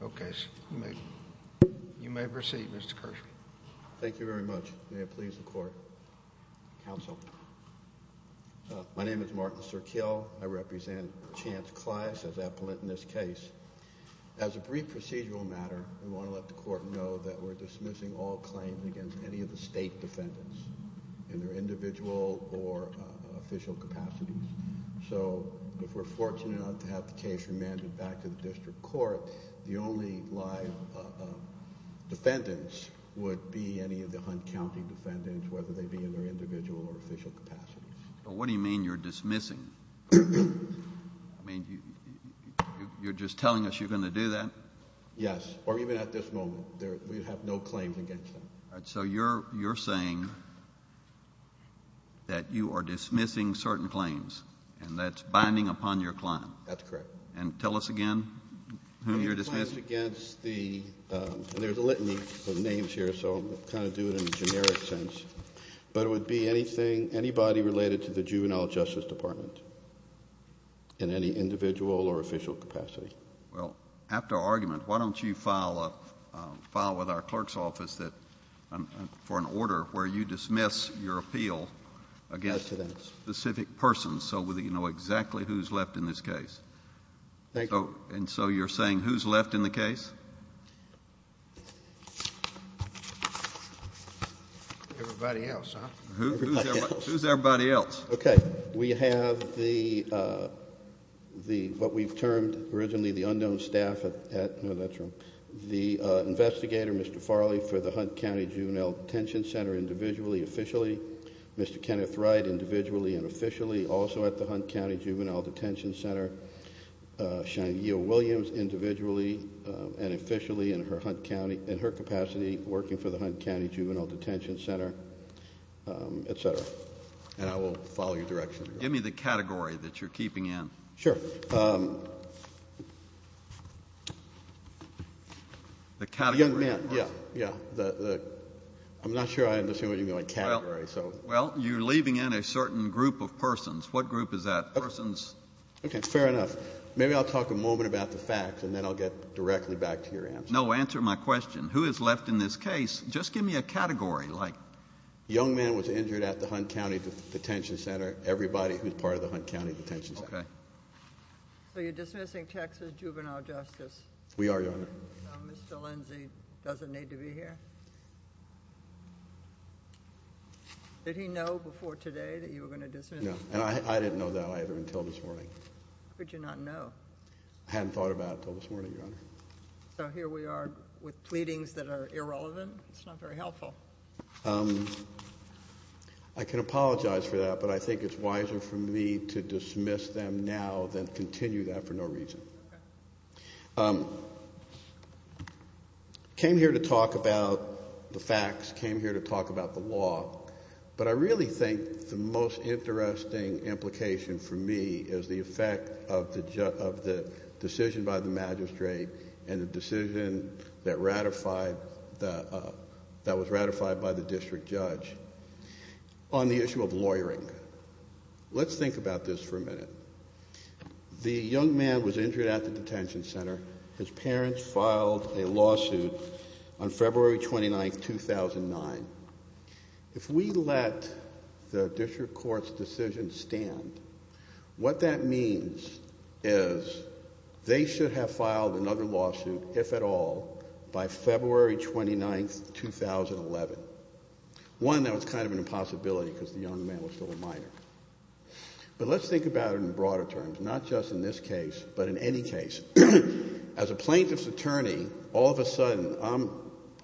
Okay, you may proceed, Mr. Kirshman. Thank you very much. May it please the court. Counsel. My name is Martin Sirkill. I represent Chance Clyce as appellant in this case. As a brief procedural matter, we want to let the court know that we're dismissing all claims against any of the state defendants in their individual or official capacities. So if we're fortunate enough to have the case remanded back to the district court, the only live defendants would be any of the Hunt County defendants, whether they be in their individual or official capacities. What do you mean you're dismissing? I mean, you're just telling us you're going to do that? Yes, or even at this moment. We have no claims against them. So you're saying that you are dismissing certain claims, and that's binding upon your client? That's correct. And tell us again who you're dismissing? There's a litany of names here, so I'll kind of do it in a generic sense. But it would be anybody related to the Juvenile Justice Department in any individual or official capacity. Well, after argument, why don't you file with our clerk's office for an order where you dismiss your appeal against a specific person so that you know exactly who's left in this case? Thank you. And so you're saying who's left in the case? Everybody else, huh? Who's everybody else? Okay. We have what we've termed originally the unknown staff at, no, that's wrong, the investigator, Mr. Farley, for the Hunt County Juvenile Detention Center individually, officially. Mr. Kenneth Wright, individually and officially, also at the Hunt County Juvenile Detention Center. Shania Williams, individually and officially in her capacity working for the Hunt County Juvenile Detention Center, etc. And I will follow your direction. Give me the category that you're keeping in. The category? Young men, yeah, yeah. I'm not sure I understand what you mean by category. Well, you're leaving in a certain group of persons. What group is that? Persons? Okay, fair enough. Maybe I'll talk a moment about the facts, and then I'll get directly back to your answer. No, answer my question. Who is left in this case? Just give me a category, like. Young men was injured at the Hunt County Detention Center, everybody who's part of the Hunt County Detention Center. Okay. So you're dismissing Texas juvenile justice? We are, Your Honor. So Mr. Lindsey doesn't need to be here? Did he know before today that you were going to dismiss him? No, and I didn't know that either until this morning. How could you not know? I hadn't thought about it until this morning, Your Honor. So here we are with pleadings that are irrelevant. It's not very helpful. I can apologize for that, but I think it's wiser for me to dismiss them now than continue that for no reason. Okay. Came here to talk about the facts, came here to talk about the law, but I really think the most interesting implication for me is the effect of the decision by the magistrate and the decision that was ratified by the district judge on the issue of lawyering. Let's think about this for a minute. The young man was injured at the detention center. His parents filed a lawsuit on February 29, 2009. If we let the district court's decision stand, what that means is they should have filed another lawsuit, if at all, by February 29, 2011, one that was kind of an impossibility because the young man was still a minor. But let's think about it in broader terms, not just in this case, but in any case. As a plaintiff's attorney, all of a sudden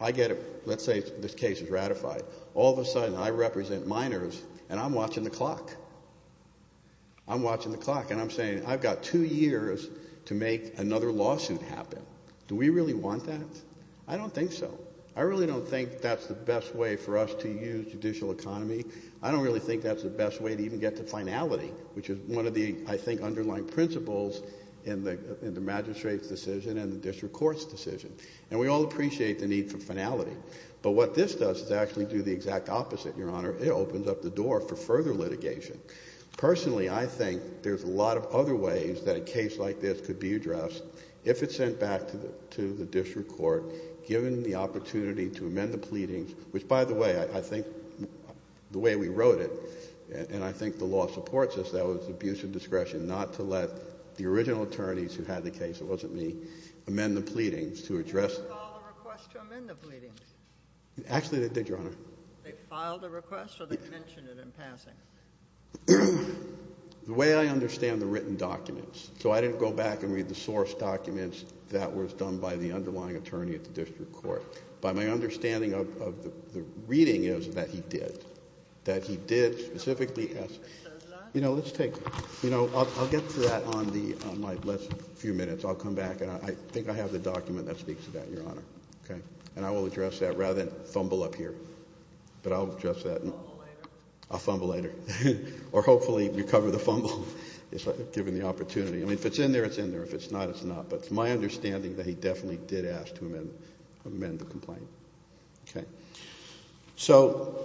I get, let's say this case is ratified, all of a sudden I represent minors and I'm watching the clock. I'm watching the clock and I'm saying, I've got two years to make another lawsuit happen. Do we really want that? I don't think so. I really don't think that's the best way for us to use judicial economy. I don't really think that's the best way to even get to finality, which is one of the, I think, underlying principles in the magistrate's decision and the district court's decision. And we all appreciate the need for finality, but what this does is actually do the exact opposite, Your Honor. It opens up the door for further litigation. Personally, I think there's a lot of other ways that a case like this could be addressed if it's sent back to the district court, given the opportunity to amend the pleadings, which, by the way, I think the way we wrote it, and I think the law supports this, that was abuse of discretion, not to let the original attorneys who had the case, it wasn't me, amend the pleadings to address it. They filed a request to amend the pleadings. Actually, they did, Your Honor. They filed a request or they mentioned it in passing? The way I understand the written documents. So I didn't go back and read the source documents that was done by the underlying attorney at the district court. But my understanding of the reading is that he did. That he did specifically ask. You know, let's take, you know, I'll get to that on my last few minutes. I'll come back, and I think I have the document that speaks to that, Your Honor, okay? And I will address that rather than fumble up here. But I'll address that. I'll fumble later. Or hopefully recover the fumble, given the opportunity. I mean, if it's in there, it's in there. If it's not, it's not. But it's my understanding that he definitely did ask to amend the complaint, okay? So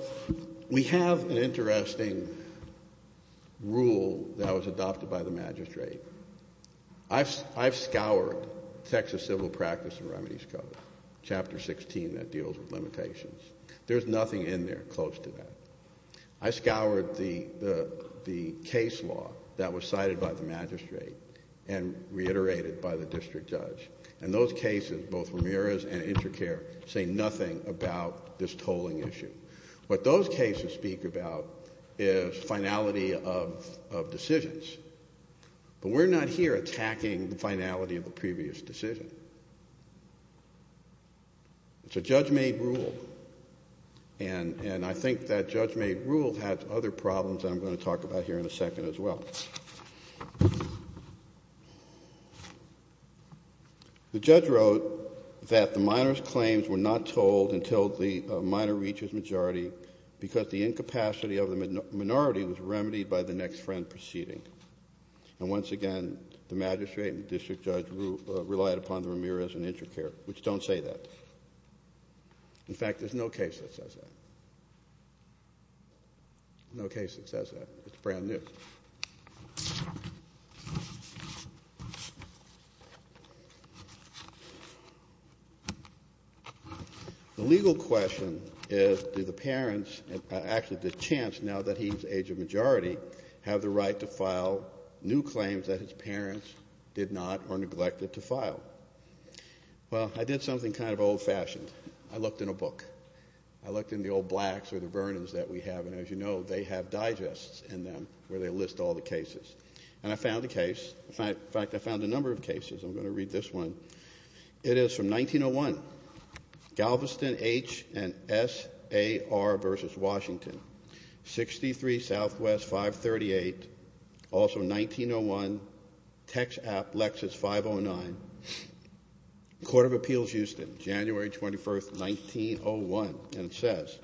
we have an interesting rule that was adopted by the magistrate. I've scoured Texas Civil Practice and Remedies Code, Chapter 16, that deals with limitations. There's nothing in there close to that. I scoured the case law that was cited by the magistrate and reiterated by the district judge. And those cases, both Ramirez and Intercare, say nothing about this tolling issue. What those cases speak about is finality of decisions. But we're not here attacking the finality of a previous decision. It's a judge-made rule. And I think that judge-made rule has other problems I'm going to talk about here in a second as well. The judge wrote that the minor's claims were not tolled until the minor reaches majority because the incapacity of the minority was remedied by the next friend proceeding. And once again, the magistrate and district judge relied upon the Ramirez and Intercare, which don't say that. In fact, there's no case that says that. No case that says that. It's brand new. The legal question is, do the parents, actually the chance now that he's age of majority, have the right to file new claims that his parents did not or neglected to file? Well, I did something kind of old-fashioned. I looked in a book. I looked in the old blacks or the Vernons that we have, and as you know, they have digests in them where they list all the cases. And I found a case. In fact, I found a number of cases. I'm going to read this one. It is from 1901. Galveston H. and S. A. R. v. Washington. 63 Southwest 538. Also 1901. Text app Lexus 509. Court of Appeals Houston, January 21st, 1901. And it says,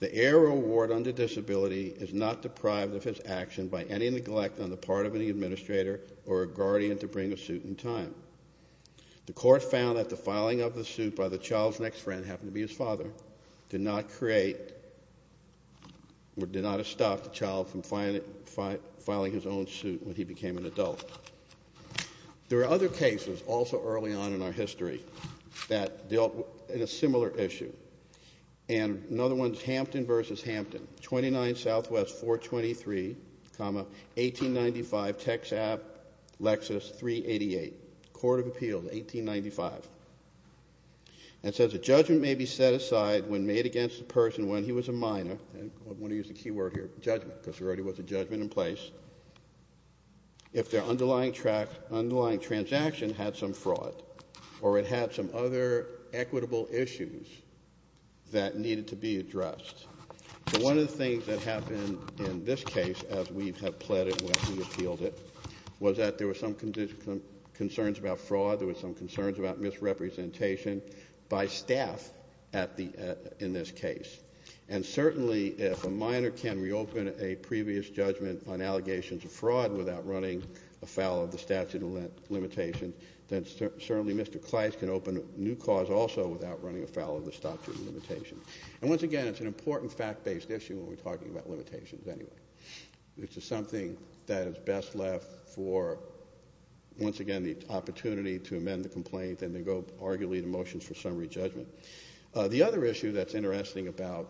The heir or ward under disability is not deprived of his action by any neglect on the part of any administrator or guardian to bring a suit in time. The court found that the filing of the suit by the child's next friend, happened to be his father, did not create or did not stop the child from filing his own suit when he became an adult. There are other cases also early on in our history that dealt with a similar issue. And another one is Hampton v. Hampton. 29 Southwest 423, 1895. Text app Lexus 388. Court of Appeals 1895. And it says, A judgment may be set aside when made against a person when he was a minor. I want to use the key word here, judgment, because there already was a judgment in place. If their underlying transaction had some fraud, or it had some other equitable issues that needed to be addressed. One of the things that happened in this case, as we have pleaded when we appealed it, was that there were some concerns about fraud. There were some concerns about misrepresentation by staff in this case. And certainly if a minor can reopen a previous judgment on allegations of fraud without running afoul of the statute of limitations, then certainly Mr. Kleist can open a new cause also without running afoul of the statute of limitations. And once again, it's an important fact-based issue when we're talking about limitations anyway. Which is something that is best left for, once again, the opportunity to amend the complaint and then go arguably to motions for summary judgment. The other issue that's interesting about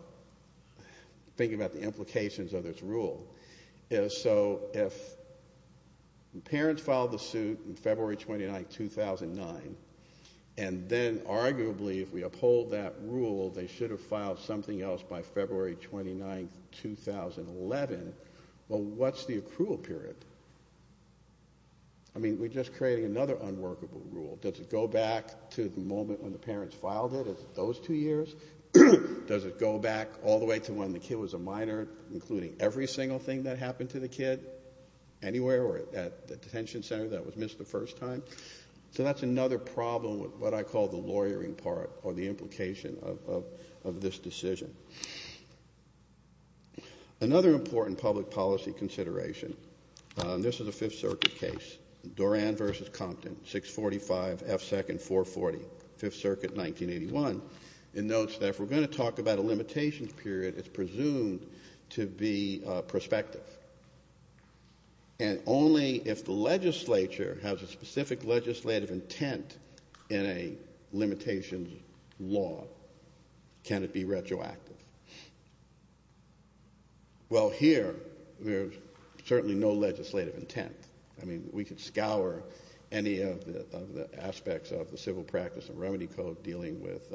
thinking about the implications of this rule is so if parents filed the suit in February 29, 2009, and then arguably if we uphold that rule, they should have filed something else by February 29, 2011, well, what's the accrual period? I mean, we're just creating another unworkable rule. Does it go back to the moment when the parents filed it? Is it those two years? Does it go back all the way to when the kid was a minor, including every single thing that happened to the kid anywhere or at the detention center that was missed the first time? So that's another problem with what I call the lawyering part or the implication of this decision. Another important public policy consideration, and this is a Fifth Circuit case, Doran v. Compton, 645 F. 2nd, 440, Fifth Circuit, 1981. It notes that if we're going to talk about a limitations period, it's presumed to be prospective. And only if the legislature has a specific legislative intent in a limitations law can it be retroactive. Well, here, there's certainly no legislative intent. I mean, we could scour any of the aspects of the civil practice and remedy code dealing with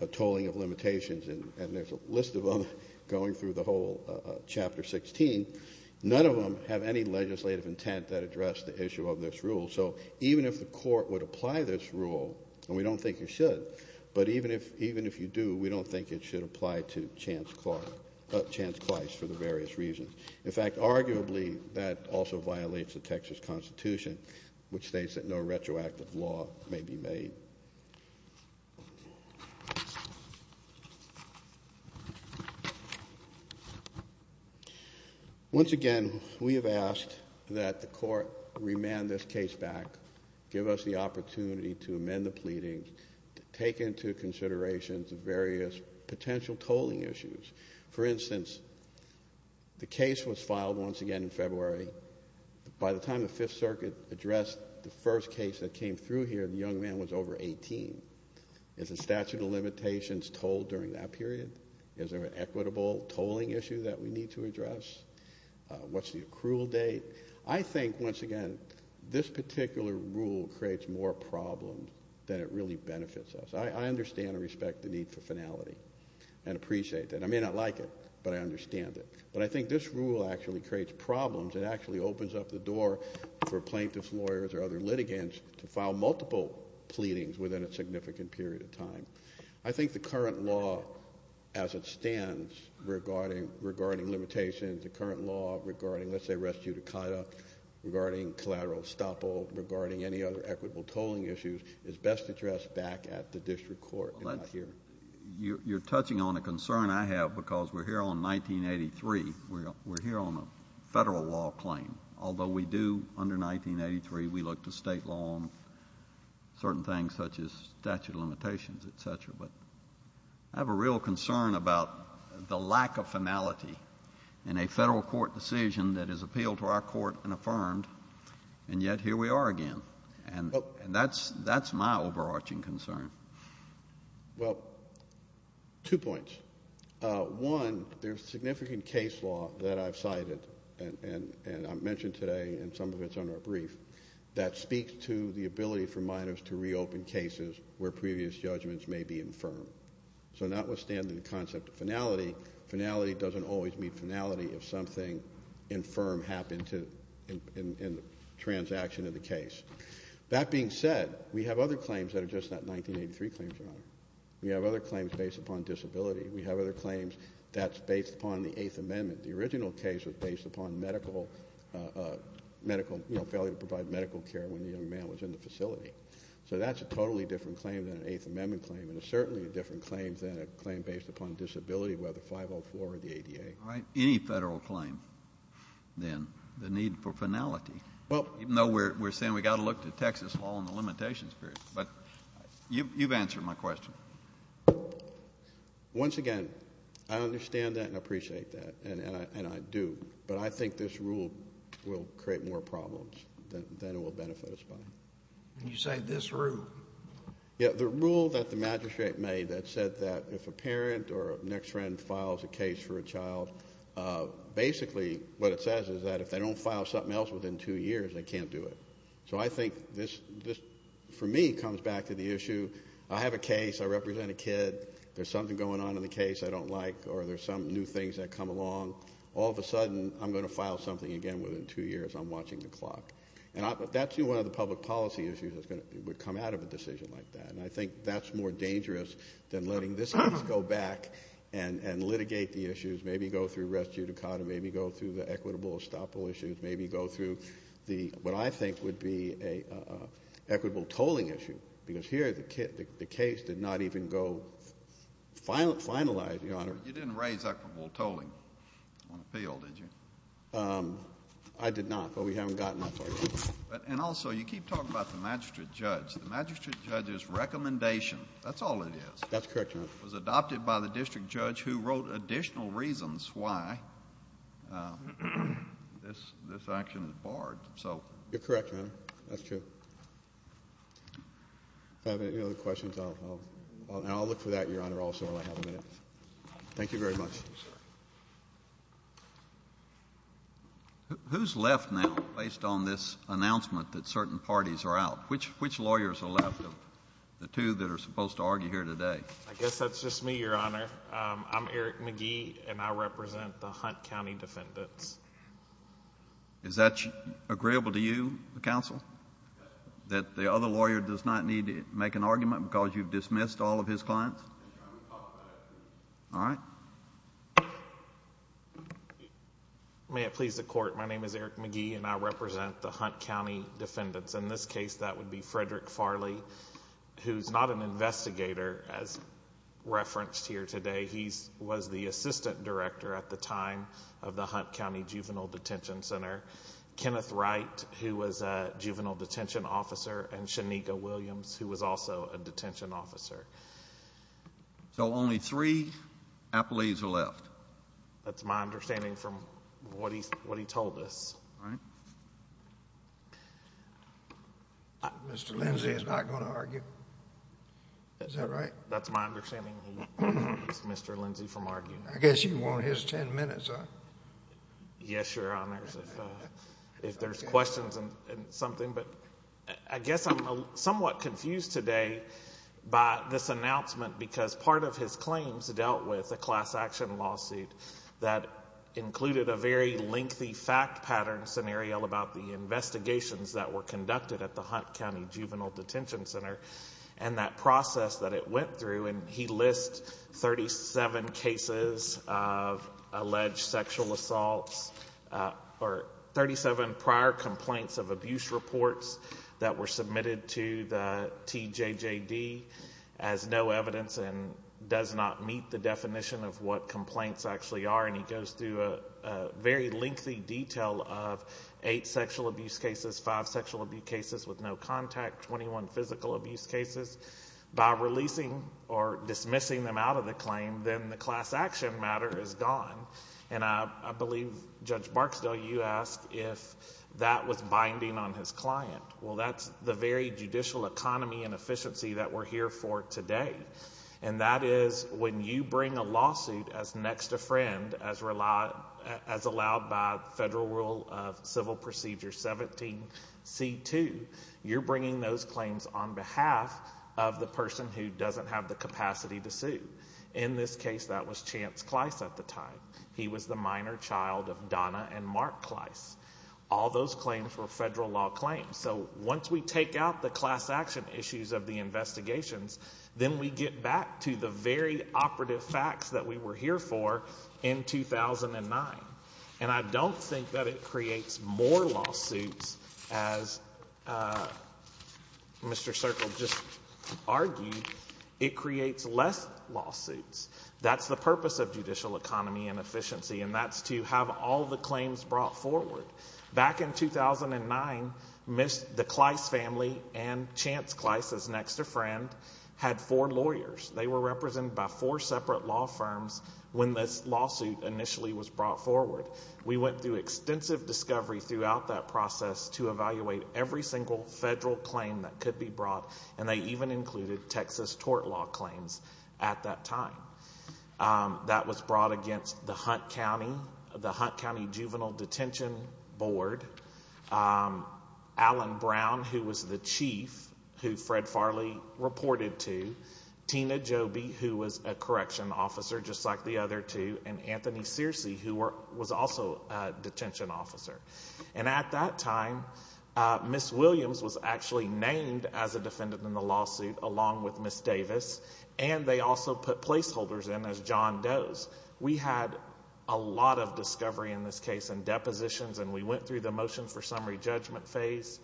a tolling of limitations, and there's a list of them going through the whole Chapter 16, none of them have any legislative intent that address the issue of this rule. So even if the court would apply this rule, and we don't think it should, but even if you do, we don't think it should apply to Chance Clyce for the various reasons. In fact, arguably, that also violates the Texas Constitution, which states that no retroactive law may be made. Once again, we have asked that the court remand this case back, give us the opportunity to amend the pleading, to take into consideration the various potential tolling issues. For instance, the case was filed once again in February. By the time the Fifth Circuit addressed the first case that came through here, the young man was over 18. Is the statute of limitations told during that period? Is there an equitable tolling issue that we need to address? What's the accrual date? I think, once again, this particular rule creates more problems than it really benefits us. I understand and respect the need for finality and appreciate that. I may not like it, but I understand it. But I think this rule actually creates problems and actually opens up the door for plaintiff's lawyers or other litigants to file multiple pleadings within a significant period of time. I think the current law as it stands regarding limitations, the current law regarding, let's say, res judicata, regarding collateral estoppel, regarding any other equitable tolling issues, is best addressed back at the district court and not here. You're touching on a concern I have because we're here on 1983. We're here on a federal law claim, although we do, under 1983, we look to state law on certain things such as statute of limitations, et cetera. But I have a real concern about the lack of finality in a federal court decision that is appealed to our court and affirmed, and yet here we are again. And that's my overarching concern. Well, two points. One, there's significant case law that I've cited, and I've mentioned today and some of it's on our brief, that speaks to the ability for minors to reopen cases where previous judgments may be infirm. So notwithstanding the concept of finality, finality doesn't always mean finality if something infirm happened in the transaction of the case. That being said, we have other claims that are just not 1983 claims. We have other claims based upon disability. We have other claims that's based upon the Eighth Amendment. The original case was based upon medical failure to provide medical care when the young man was in the facility. So that's a totally different claim than an Eighth Amendment claim, and it's certainly a different claim than a claim based upon disability, whether 504 or the ADA. Any federal claim, then, the need for finality, even though we're saying we've got to look to Texas law on the limitations period. But you've answered my question. Once again, I understand that and appreciate that, and I do. But I think this rule will create more problems than it will benefit us by. You say this rule? Yeah, the rule that the magistrate made that said that if a parent or a next friend files a case for a child, basically what it says is that if they don't file something else within two years, they can't do it. So I think this, for me, comes back to the issue. I have a case. I represent a kid. There's something going on in the case I don't like, or there's some new things that come along. All of a sudden, I'm going to file something again within two years. I'm watching the clock. That's one of the public policy issues that would come out of a decision like that, and I think that's more dangerous than letting this case go back and litigate the issues, maybe go through res judicata, maybe go through the equitable estoppel issues, maybe go through what I think would be an equitable tolling issue. Because here the case did not even go finalized, Your Honor. You didn't raise equitable tolling on appeal, did you? I did not, but we haven't gotten that far yet. And also you keep talking about the magistrate judge. The magistrate judge's recommendation, that's all it is. That's correct, Your Honor. It was adopted by the district judge who wrote additional reasons why this action is barred. You're correct, Your Honor. That's true. If I have any other questions, I'll look for that, Your Honor, also while I have a minute. Thank you very much. Who's left now based on this announcement that certain parties are out? Which lawyers are left of the two that are supposed to argue here today? I guess that's just me, Your Honor. I'm Eric McGee, and I represent the Hunt County defendants. Is that agreeable to you, counsel? That the other lawyer does not need to make an argument because you've dismissed all of his clients? All right. May it please the court. My name is Eric McGee, and I represent the Hunt County defendants. In this case, that would be Frederick Farley, who's not an investigator as referenced here today. He was the assistant director at the time of the Hunt County Juvenile Detention Center. Kenneth Wright, who was a juvenile detention officer, and Shanika Williams, who was also a detention officer. So only three appellees are left. That's my understanding from what he told us. All right. Mr. Lindsey is not going to argue. Is that right? That's my understanding. He's Mr. Lindsey from arguing. I guess you want his ten minutes, huh? Yes, Your Honors, if there's questions and something. But I guess I'm somewhat confused today by this announcement because part of his claims dealt with a class action lawsuit that included a very lengthy fact pattern scenario about the investigations that were conducted at the Hunt County Juvenile Detention Center and that process that it went through. And he lists 37 cases of alleged sexual assaults or 37 prior complaints of abuse reports that were submitted to the TJJD as no evidence and does not meet the definition of what complaints actually are. And he goes through a very lengthy detail of eight sexual abuse cases, five sexual abuse cases with no contact, 21 physical abuse cases. By releasing or dismissing them out of the claim, then the class action matter is gone. And I believe, Judge Barksdale, you asked if that was binding on his client. Well, that's the very judicial economy and efficiency that we're here for today. And that is when you bring a lawsuit as next to friend, as allowed by Federal Rule of Civil Procedure 17C2, you're bringing those claims on behalf of the person who doesn't have the capacity to sue. In this case, that was Chance Kleiss at the time. He was the minor child of Donna and Mark Kleiss. All those claims were federal law claims. So once we take out the class action issues of the investigations, then we get back to the very operative facts that we were here for in 2009. And I don't think that it creates more lawsuits as Mr. Circle just argued. It creates less lawsuits. That's the purpose of judicial economy and efficiency, and that's to have all the claims brought forward. Back in 2009, the Kleiss family and Chance Kleiss as next to friend had four lawyers. They were represented by four separate law firms when this lawsuit initially was brought forward. We went through extensive discovery throughout that process to evaluate every single federal claim that could be brought, and they even included Texas tort law claims at that time. That was brought against the Hunt County Juvenile Detention Board, Alan Brown, who was the chief who Fred Farley reported to, Tina Joby, who was a correction officer just like the other two, and Anthony Searcy, who was also a detention officer. And at that time, Ms. Williams was actually named as a defendant in the lawsuit along with Ms. Davis, and they also put placeholders in as John Does. We had a lot of discovery in this case and depositions, and we went through the motion for summary judgment phase,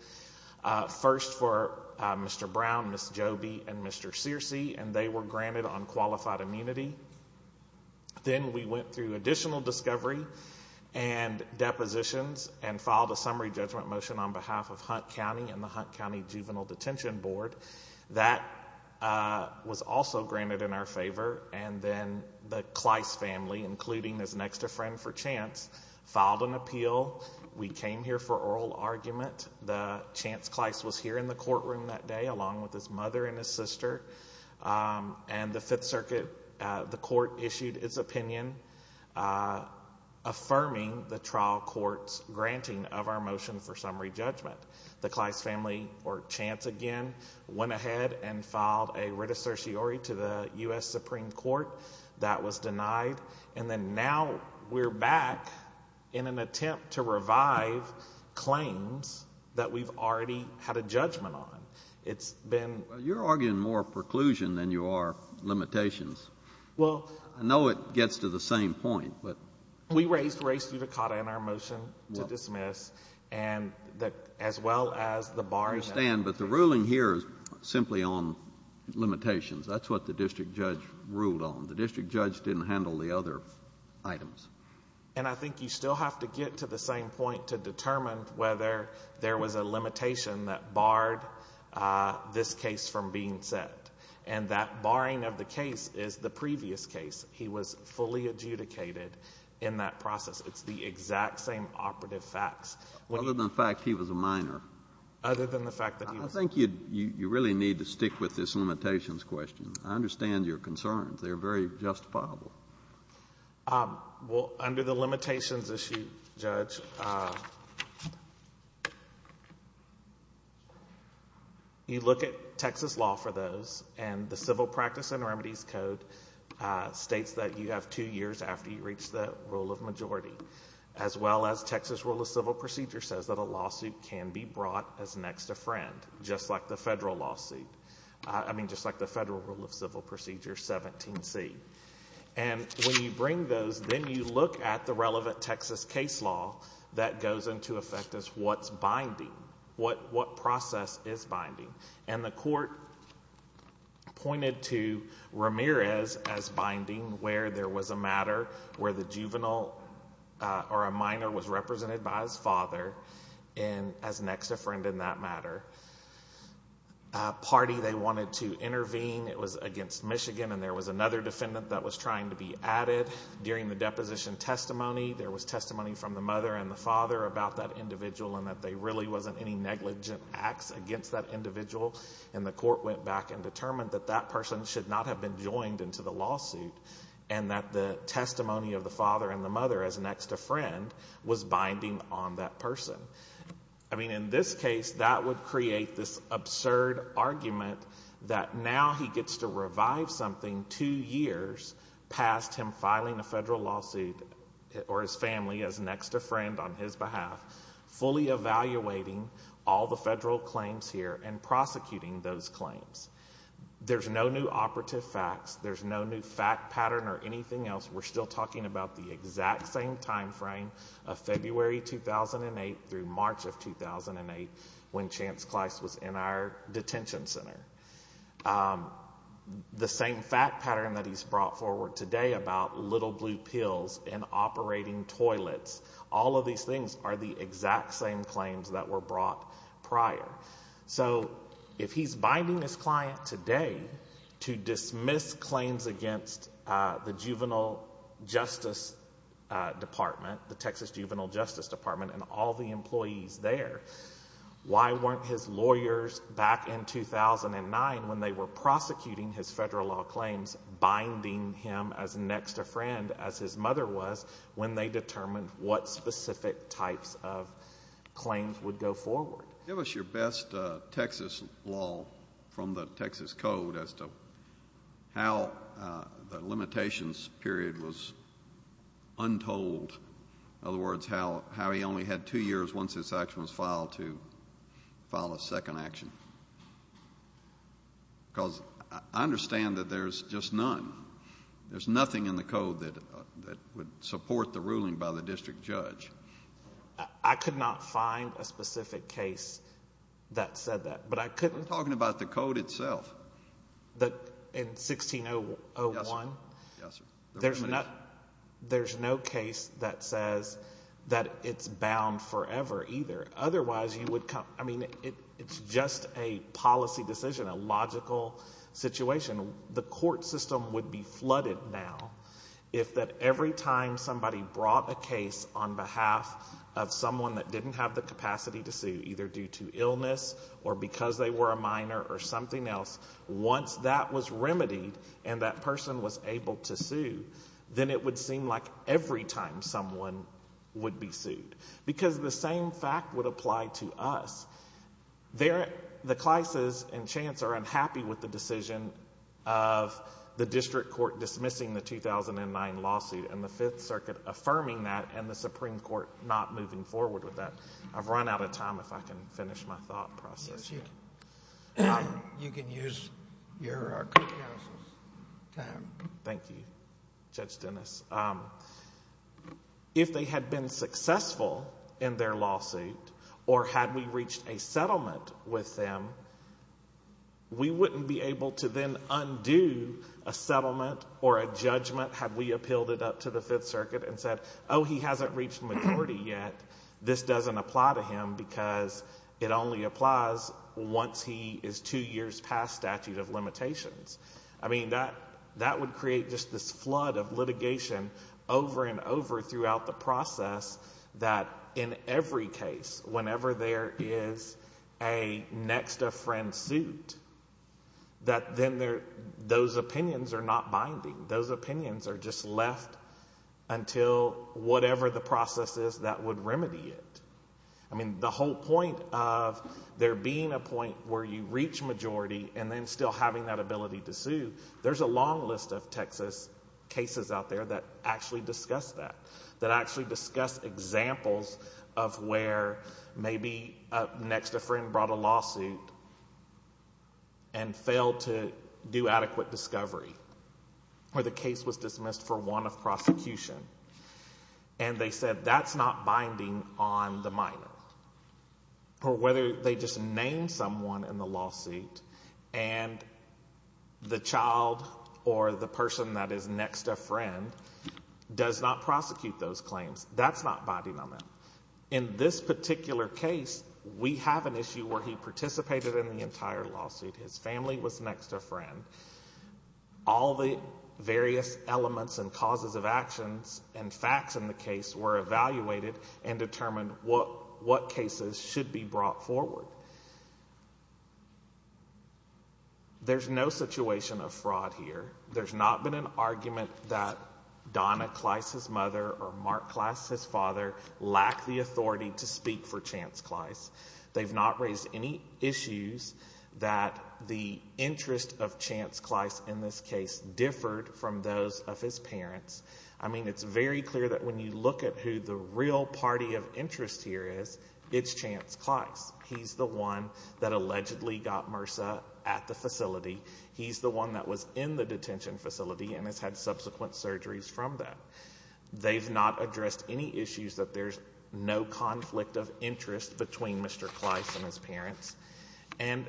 first for Mr. Brown, Ms. Joby, and Mr. Searcy, and they were granted unqualified immunity. Then we went through additional discovery and depositions and filed a summary judgment motion on behalf of Hunt County and the Hunt County Juvenile Detention Board. That was also granted in our favor, and then the Kleiss family, including his next of friend for chance, filed an appeal. We came here for oral argument. The Chance Kleiss was here in the courtroom that day along with his mother and his sister, and the Fifth Circuit, the court issued its opinion affirming the trial court's granting of our motion for summary judgment. The Kleiss family, or Chance again, went ahead and filed a writ of certiorari to the U.S. Supreme Court. That was denied, and then now we're back in an attempt to revive claims that we've already had a judgment on. It's been— Well, you're arguing more preclusion than you are limitations. Well— I know it gets to the same point, but— We raised race judicata in our motion to dismiss as well as the bar— I understand, but the ruling here is simply on limitations. That's what the district judge ruled on. The district judge didn't handle the other items. I think you still have to get to the same point to determine whether there was a limitation that barred this case from being set. That barring of the case is the previous case. He was fully adjudicated in that process. It's the exact same operative facts. Other than the fact he was a minor. Other than the fact that he was— I think you really need to stick with this limitations question. I understand your concerns. They're very justifiable. Well, under the limitations issue, Judge, you look at Texas law for those, and the Civil Practice and Remedies Code states that you have two years after you reach the rule of majority, as well as Texas rule of civil procedure says that a lawsuit can be brought as next to friend, just like the federal rule of civil procedure 17C. And when you bring those, then you look at the relevant Texas case law that goes into effect as what's binding, what process is binding. And the court pointed to Ramirez as binding where there was a matter where the juvenile or a minor was represented by his father as next to friend in that matter. Party, they wanted to intervene. It was against Michigan, and there was another defendant that was trying to be added. During the deposition testimony, there was testimony from the mother and the father about that individual and that there really wasn't any negligent acts against that individual. And the court went back and determined that that person should not have been joined into the lawsuit and that the testimony of the father and the mother as next to friend was binding on that person. I mean, in this case, that would create this absurd argument that now he gets to revive something two years past him filing a federal lawsuit or his family as next to friend on his behalf, fully evaluating all the federal claims here and prosecuting those claims. There's no new operative facts. There's no new fact pattern or anything else. We're still talking about the exact same timeframe of February 2008 through March of 2008 when Chance Kleist was in our detention center. The same fact pattern that he's brought forward today about little blue pills and operating toilets, all of these things are the exact same claims that were brought prior. So if he's binding his client today to dismiss claims against the Juvenile Justice Department, the Texas Juvenile Justice Department and all the employees there, why weren't his lawyers back in 2009 when they were prosecuting his federal law claims binding him as next to friend as his mother was when they determined what specific types of claims would go forward? Give us your best Texas law from the Texas code as to how the limitations period was untold. In other words, how he only had two years once this action was filed to file a second action. Because I understand that there's just none. There's nothing in the code that would support the ruling by the district judge. I could not find a specific case that said that. We're talking about the code itself. In 1601, there's no case that says that it's bound forever either. Otherwise, you would come – I mean, it's just a policy decision, a logical situation. The court system would be flooded now if that every time somebody brought a case on behalf of someone that didn't have the capacity to sue, either due to illness or because they were a minor or something else, once that was remedied and that person was able to sue, then it would seem like every time someone would be sued. Because the same fact would apply to us. The classes and chance are unhappy with the decision of the district court dismissing the 2009 lawsuit and the Fifth Circuit affirming that and the Supreme Court not moving forward with that. I've run out of time if I can finish my thought process. Yes, you can. You can use your counsel's time. Thank you, Judge Dennis. If they had been successful in their lawsuit or had we reached a settlement with them, we wouldn't be able to then undo a settlement or a judgment had we appealed it up to the Fifth Circuit and said, oh, he hasn't reached majority yet. This doesn't apply to him because it only applies once he is two years past statute of limitations. I mean, that would create just this flood of litigation over and over throughout the process that in every case, whenever there is a next-of-friend suit, that then those opinions are not binding. Those opinions are just left until whatever the process is that would remedy it. I mean, the whole point of there being a point where you reach majority and then still having that ability to sue, there's a long list of Texas cases out there that actually discuss that, that actually discuss examples of where maybe a next-of-friend brought a lawsuit and failed to do adequate discovery or the case was dismissed for want of prosecution. And they said that's not binding on the minor or whether they just named someone in the lawsuit and the child or the person that is next-of-friend does not prosecute those claims. That's not binding on them. In this particular case, we have an issue where he participated in the entire lawsuit. His family was next-of-friend. All the various elements and causes of actions and facts in the case were evaluated and determined what cases should be brought forward. There's no situation of fraud here. There's not been an argument that Donna Clice's mother or Mark Clice's father lack the authority to speak for Chance Clice. They've not raised any issues that the interest of Chance Clice in this case differed from those of his parents. I mean, it's very clear that when you look at who the real party of interest here is, it's Chance Clice. He's the one that allegedly got MRSA at the facility. He's the one that was in the detention facility and has had subsequent surgeries from that. They've not addressed any issues that there's no conflict of interest between Mr. Clice and his parents. And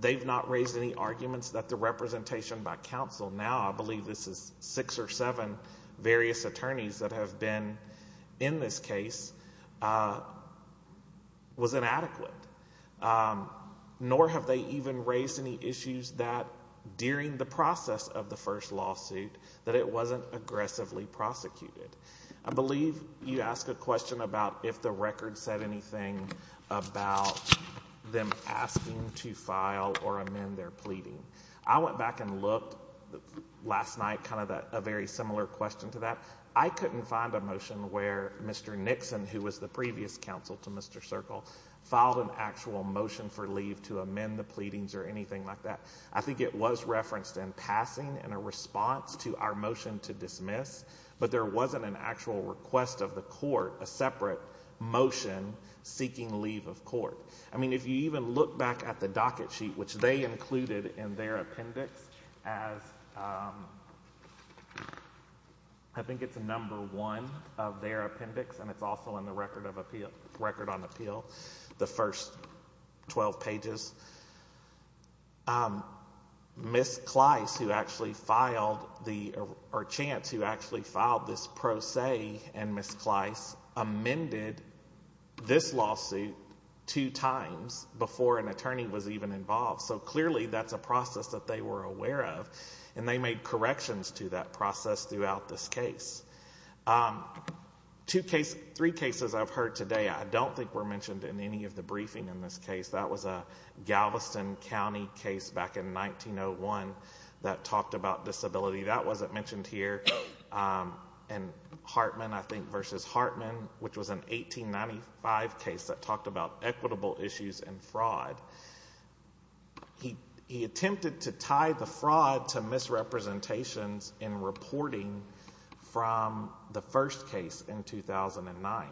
they've not raised any arguments that the representation by counsel, now I believe this is six or seven various attorneys that have been in this case, was inadequate. Nor have they even raised any issues that during the process of the first lawsuit that it wasn't aggressively prosecuted. I believe you asked a question about if the record said anything about them asking to file or amend their pleading. I went back and looked last night, kind of a very similar question to that. I couldn't find a motion where Mr. Nixon, who was the previous counsel to Mr. Circle, filed an actual motion for leave to amend the pleadings or anything like that. I think it was referenced in passing in a response to our motion to dismiss, but there wasn't an actual request of the court, a separate motion seeking leave of court. I mean, if you even look back at the docket sheet, which they included in their appendix, as I think it's number one of their appendix, and it's also in the record on appeal, the first 12 pages. Ms. Clice, who actually filed the, or Chance, who actually filed this pro se in Ms. Clice, amended this lawsuit two times before an attorney was even involved. So clearly that's a process that they were aware of, and they made corrections to that process throughout this case. Three cases I've heard today I don't think were mentioned in any of the briefing in this case. That was a Galveston County case back in 1901 that talked about disability. That wasn't mentioned here. And Hartman, I think, versus Hartman, which was an 1895 case that talked about equitable issues and fraud. He attempted to tie the fraud to misrepresentations in reporting from the first case in 2009.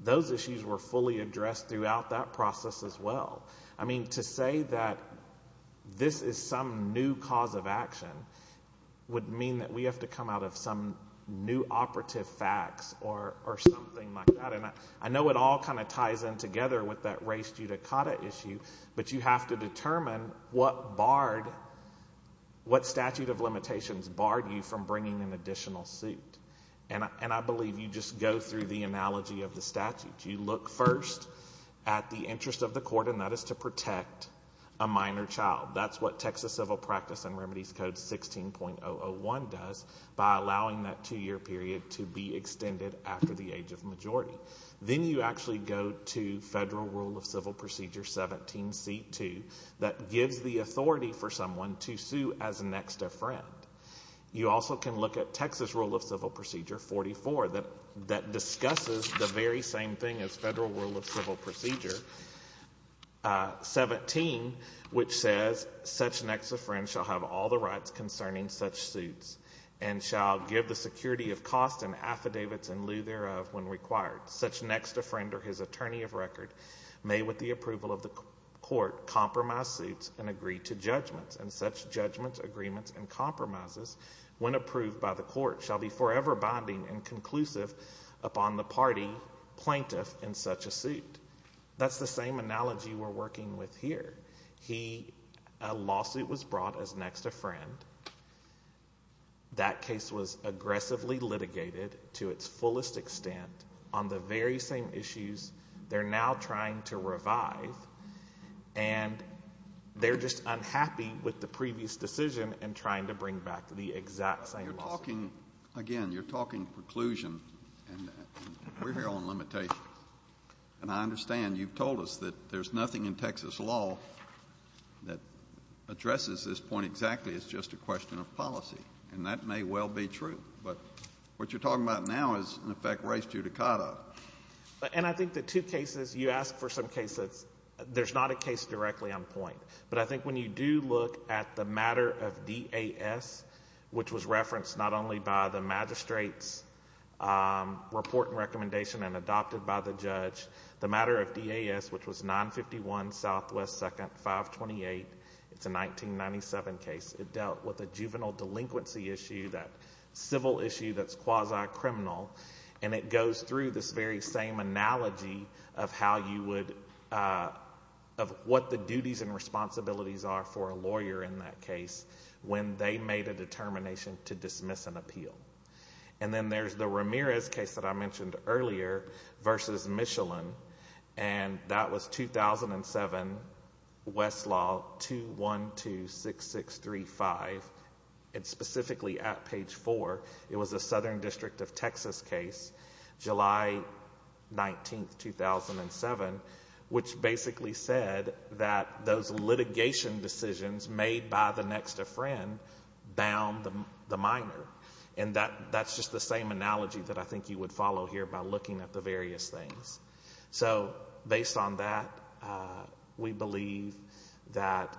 Those issues were fully addressed throughout that process as well. I mean, to say that this is some new cause of action would mean that we have to come out of some new operative facts or something like that. And I know it all kind of ties in together with that race judicata issue, but you have to determine what statute of limitations barred you from bringing an additional suit. And I believe you just go through the analogy of the statute. You look first at the interest of the court, and that is to protect a minor child. That's what Texas Civil Practice and Remedies Code 16.001 does by allowing that two-year period to be extended after the age of majority. Then you actually go to Federal Rule of Civil Procedure 17c2 that gives the authority for someone to sue as next of friend. You also can look at Texas Rule of Civil Procedure 44 that discusses the very same thing as Federal Rule of Civil Procedure 17, which says, such next of friend shall have all the rights concerning such suits and shall give the security of cost and affidavits in lieu thereof when required. Such next of friend or his attorney of record may, with the approval of the court, compromise suits and agree to judgments, and such judgments, agreements, and compromises, when approved by the court, shall be forever binding and conclusive upon the party plaintiff in such a suit. That's the same analogy we're working with here. A lawsuit was brought as next of friend. That case was aggressively litigated to its fullest extent on the very same issues they're now trying to revive, and they're just unhappy with the previous decision in trying to bring back the exact same lawsuit. You're talking, again, you're talking preclusion, and we're here on limitations, and I understand you've told us that there's nothing in Texas law that addresses this point exactly. It's just a question of policy, and that may well be true, but what you're talking about now is, in effect, race judicata. I think the two cases you asked for some cases, there's not a case directly on point, but I think when you do look at the matter of DAS, which was referenced not only by the magistrate's report and recommendation and adopted by the judge, the matter of DAS, which was 951 Southwest 2nd 528, it's a 1997 case. It dealt with a juvenile delinquency issue, that civil issue that's quasi-criminal, and it goes through this very same analogy of what the duties and responsibilities are for a lawyer in that case when they made a determination to dismiss an appeal. Then there's the Ramirez case that I mentioned earlier versus Michelin, and that was 2007, Westlaw 2126635. It's specifically at page 4. It was a Southern District of Texas case, July 19, 2007, which basically said that those litigation decisions made by the next of friend bound the minor, and that's just the same analogy that I think you would follow here by looking at the various things. Based on that, we believe that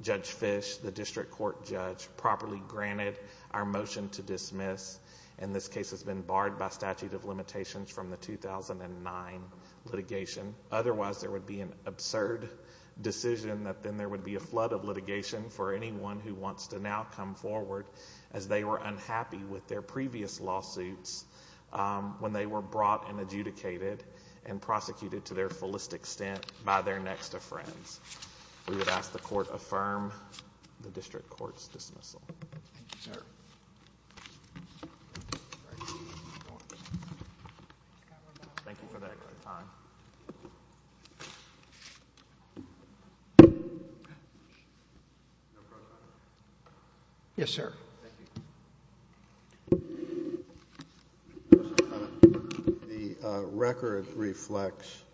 Judge Fish, the district court judge, properly granted our motion to dismiss, and this case has been barred by statute of limitations from the 2009 litigation. Otherwise, there would be an absurd decision that then there would be a flood of litigation for anyone who wants to now come forward as they were unhappy with their previous lawsuits when they were brought and adjudicated and prosecuted to their fullest extent by their next of friends. We would ask the court affirm the district court's dismissal. Thank you, sir. The record reflects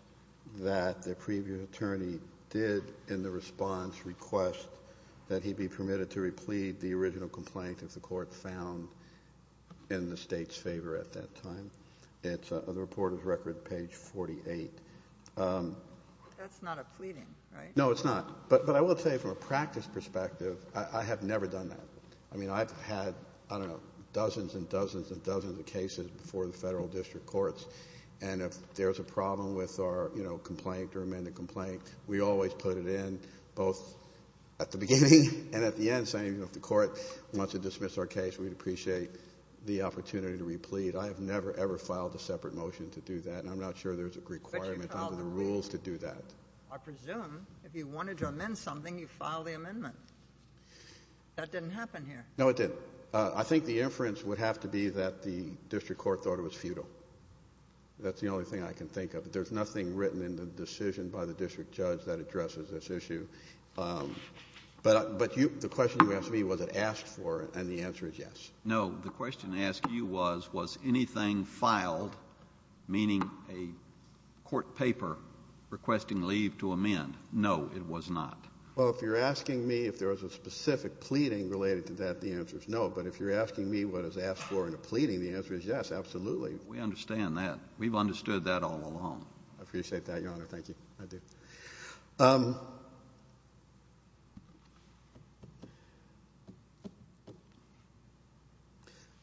that the previous attorney did, in the response, request that he be permitted to in the state's favor at that time. It's on the reporter's record, page 48. That's not a pleading, right? No, it's not, but I will tell you from a practice perspective, I have never done that. I mean, I've had, I don't know, dozens and dozens and dozens of cases before the federal district courts, and if there's a problem with our complaint or amended complaint, we always put it in, both at the beginning and at the end, saying if the court wants to dismiss our case, we'd appreciate the opportunity to replead. I have never, ever filed a separate motion to do that, and I'm not sure there's a requirement under the rules to do that. I presume if you wanted to amend something, you filed the amendment. That didn't happen here. No, it didn't. I think the inference would have to be that the district court thought it was futile. That's the only thing I can think of. But the question you asked me, was it asked for, and the answer is yes. No, the question I asked you was, was anything filed, meaning a court paper requesting leave to amend? No, it was not. Well, if you're asking me if there was a specific pleading related to that, the answer is no, but if you're asking me what is asked for in a pleading, the answer is yes, absolutely. We understand that. We've understood that all along. I appreciate that, Your Honor. Thank you. I do.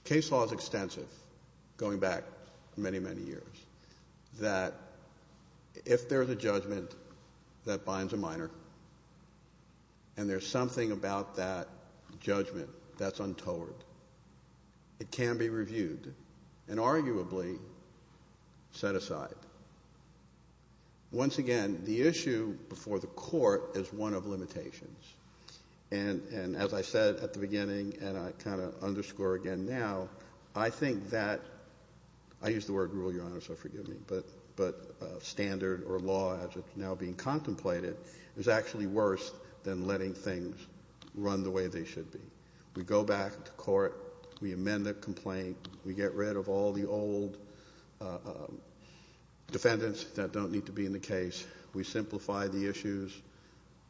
Case law is extensive, going back many, many years, that if there's a judgment that binds a minor, and there's something about that judgment that's untold, it can be reviewed and arguably set aside. Once again, the issue before the court is one of limitations, and as I said at the beginning, and I kind of underscore again now, I think that, I use the word rule, Your Honor, so forgive me, but standard or law as it's now being contemplated is actually worse than letting things run the way they should be. We go back to court. We amend the complaint. We get rid of all the old defendants that don't need to be in the case. We simplify the issues.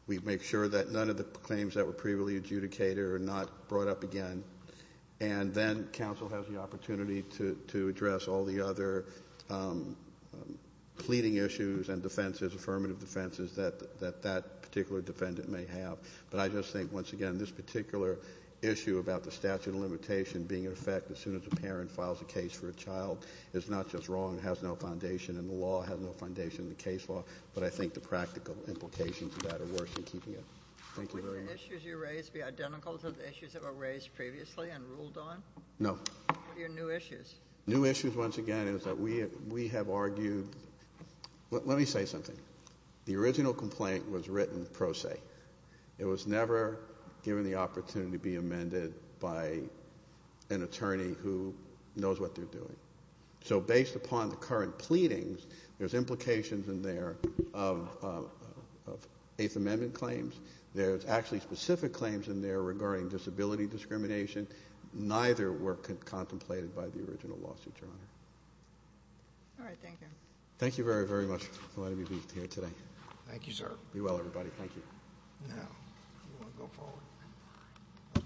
We make sure that none of the claims that were previously adjudicated are not brought up again, and then counsel has the opportunity to address all the other pleading issues and defenses, affirmative defenses, that that particular defendant may have, but I just think, once again, this particular issue about the statute of limitation being in effect as soon as a parent files a case for a child is not just wrong, has no foundation in the law, has no foundation in the case law, but I think the practical implications of that are worse than keeping it. Thank you very much. Would the issues you raised be identical to the issues that were raised previously and ruled on? No. What are your new issues? New issues, once again, is that we have argued, let me say something. The original complaint was written pro se. It was never given the opportunity to be amended by an attorney who knows what they're doing. So based upon the current pleadings, there's implications in there of Eighth Amendment claims. There's actually specific claims in there regarding disability discrimination. Neither were contemplated by the original lawsuit, Your Honor. All right. Thank you. Thank you very, very much for letting me be here today. Thank you, sir. Be well, everybody. Thank you.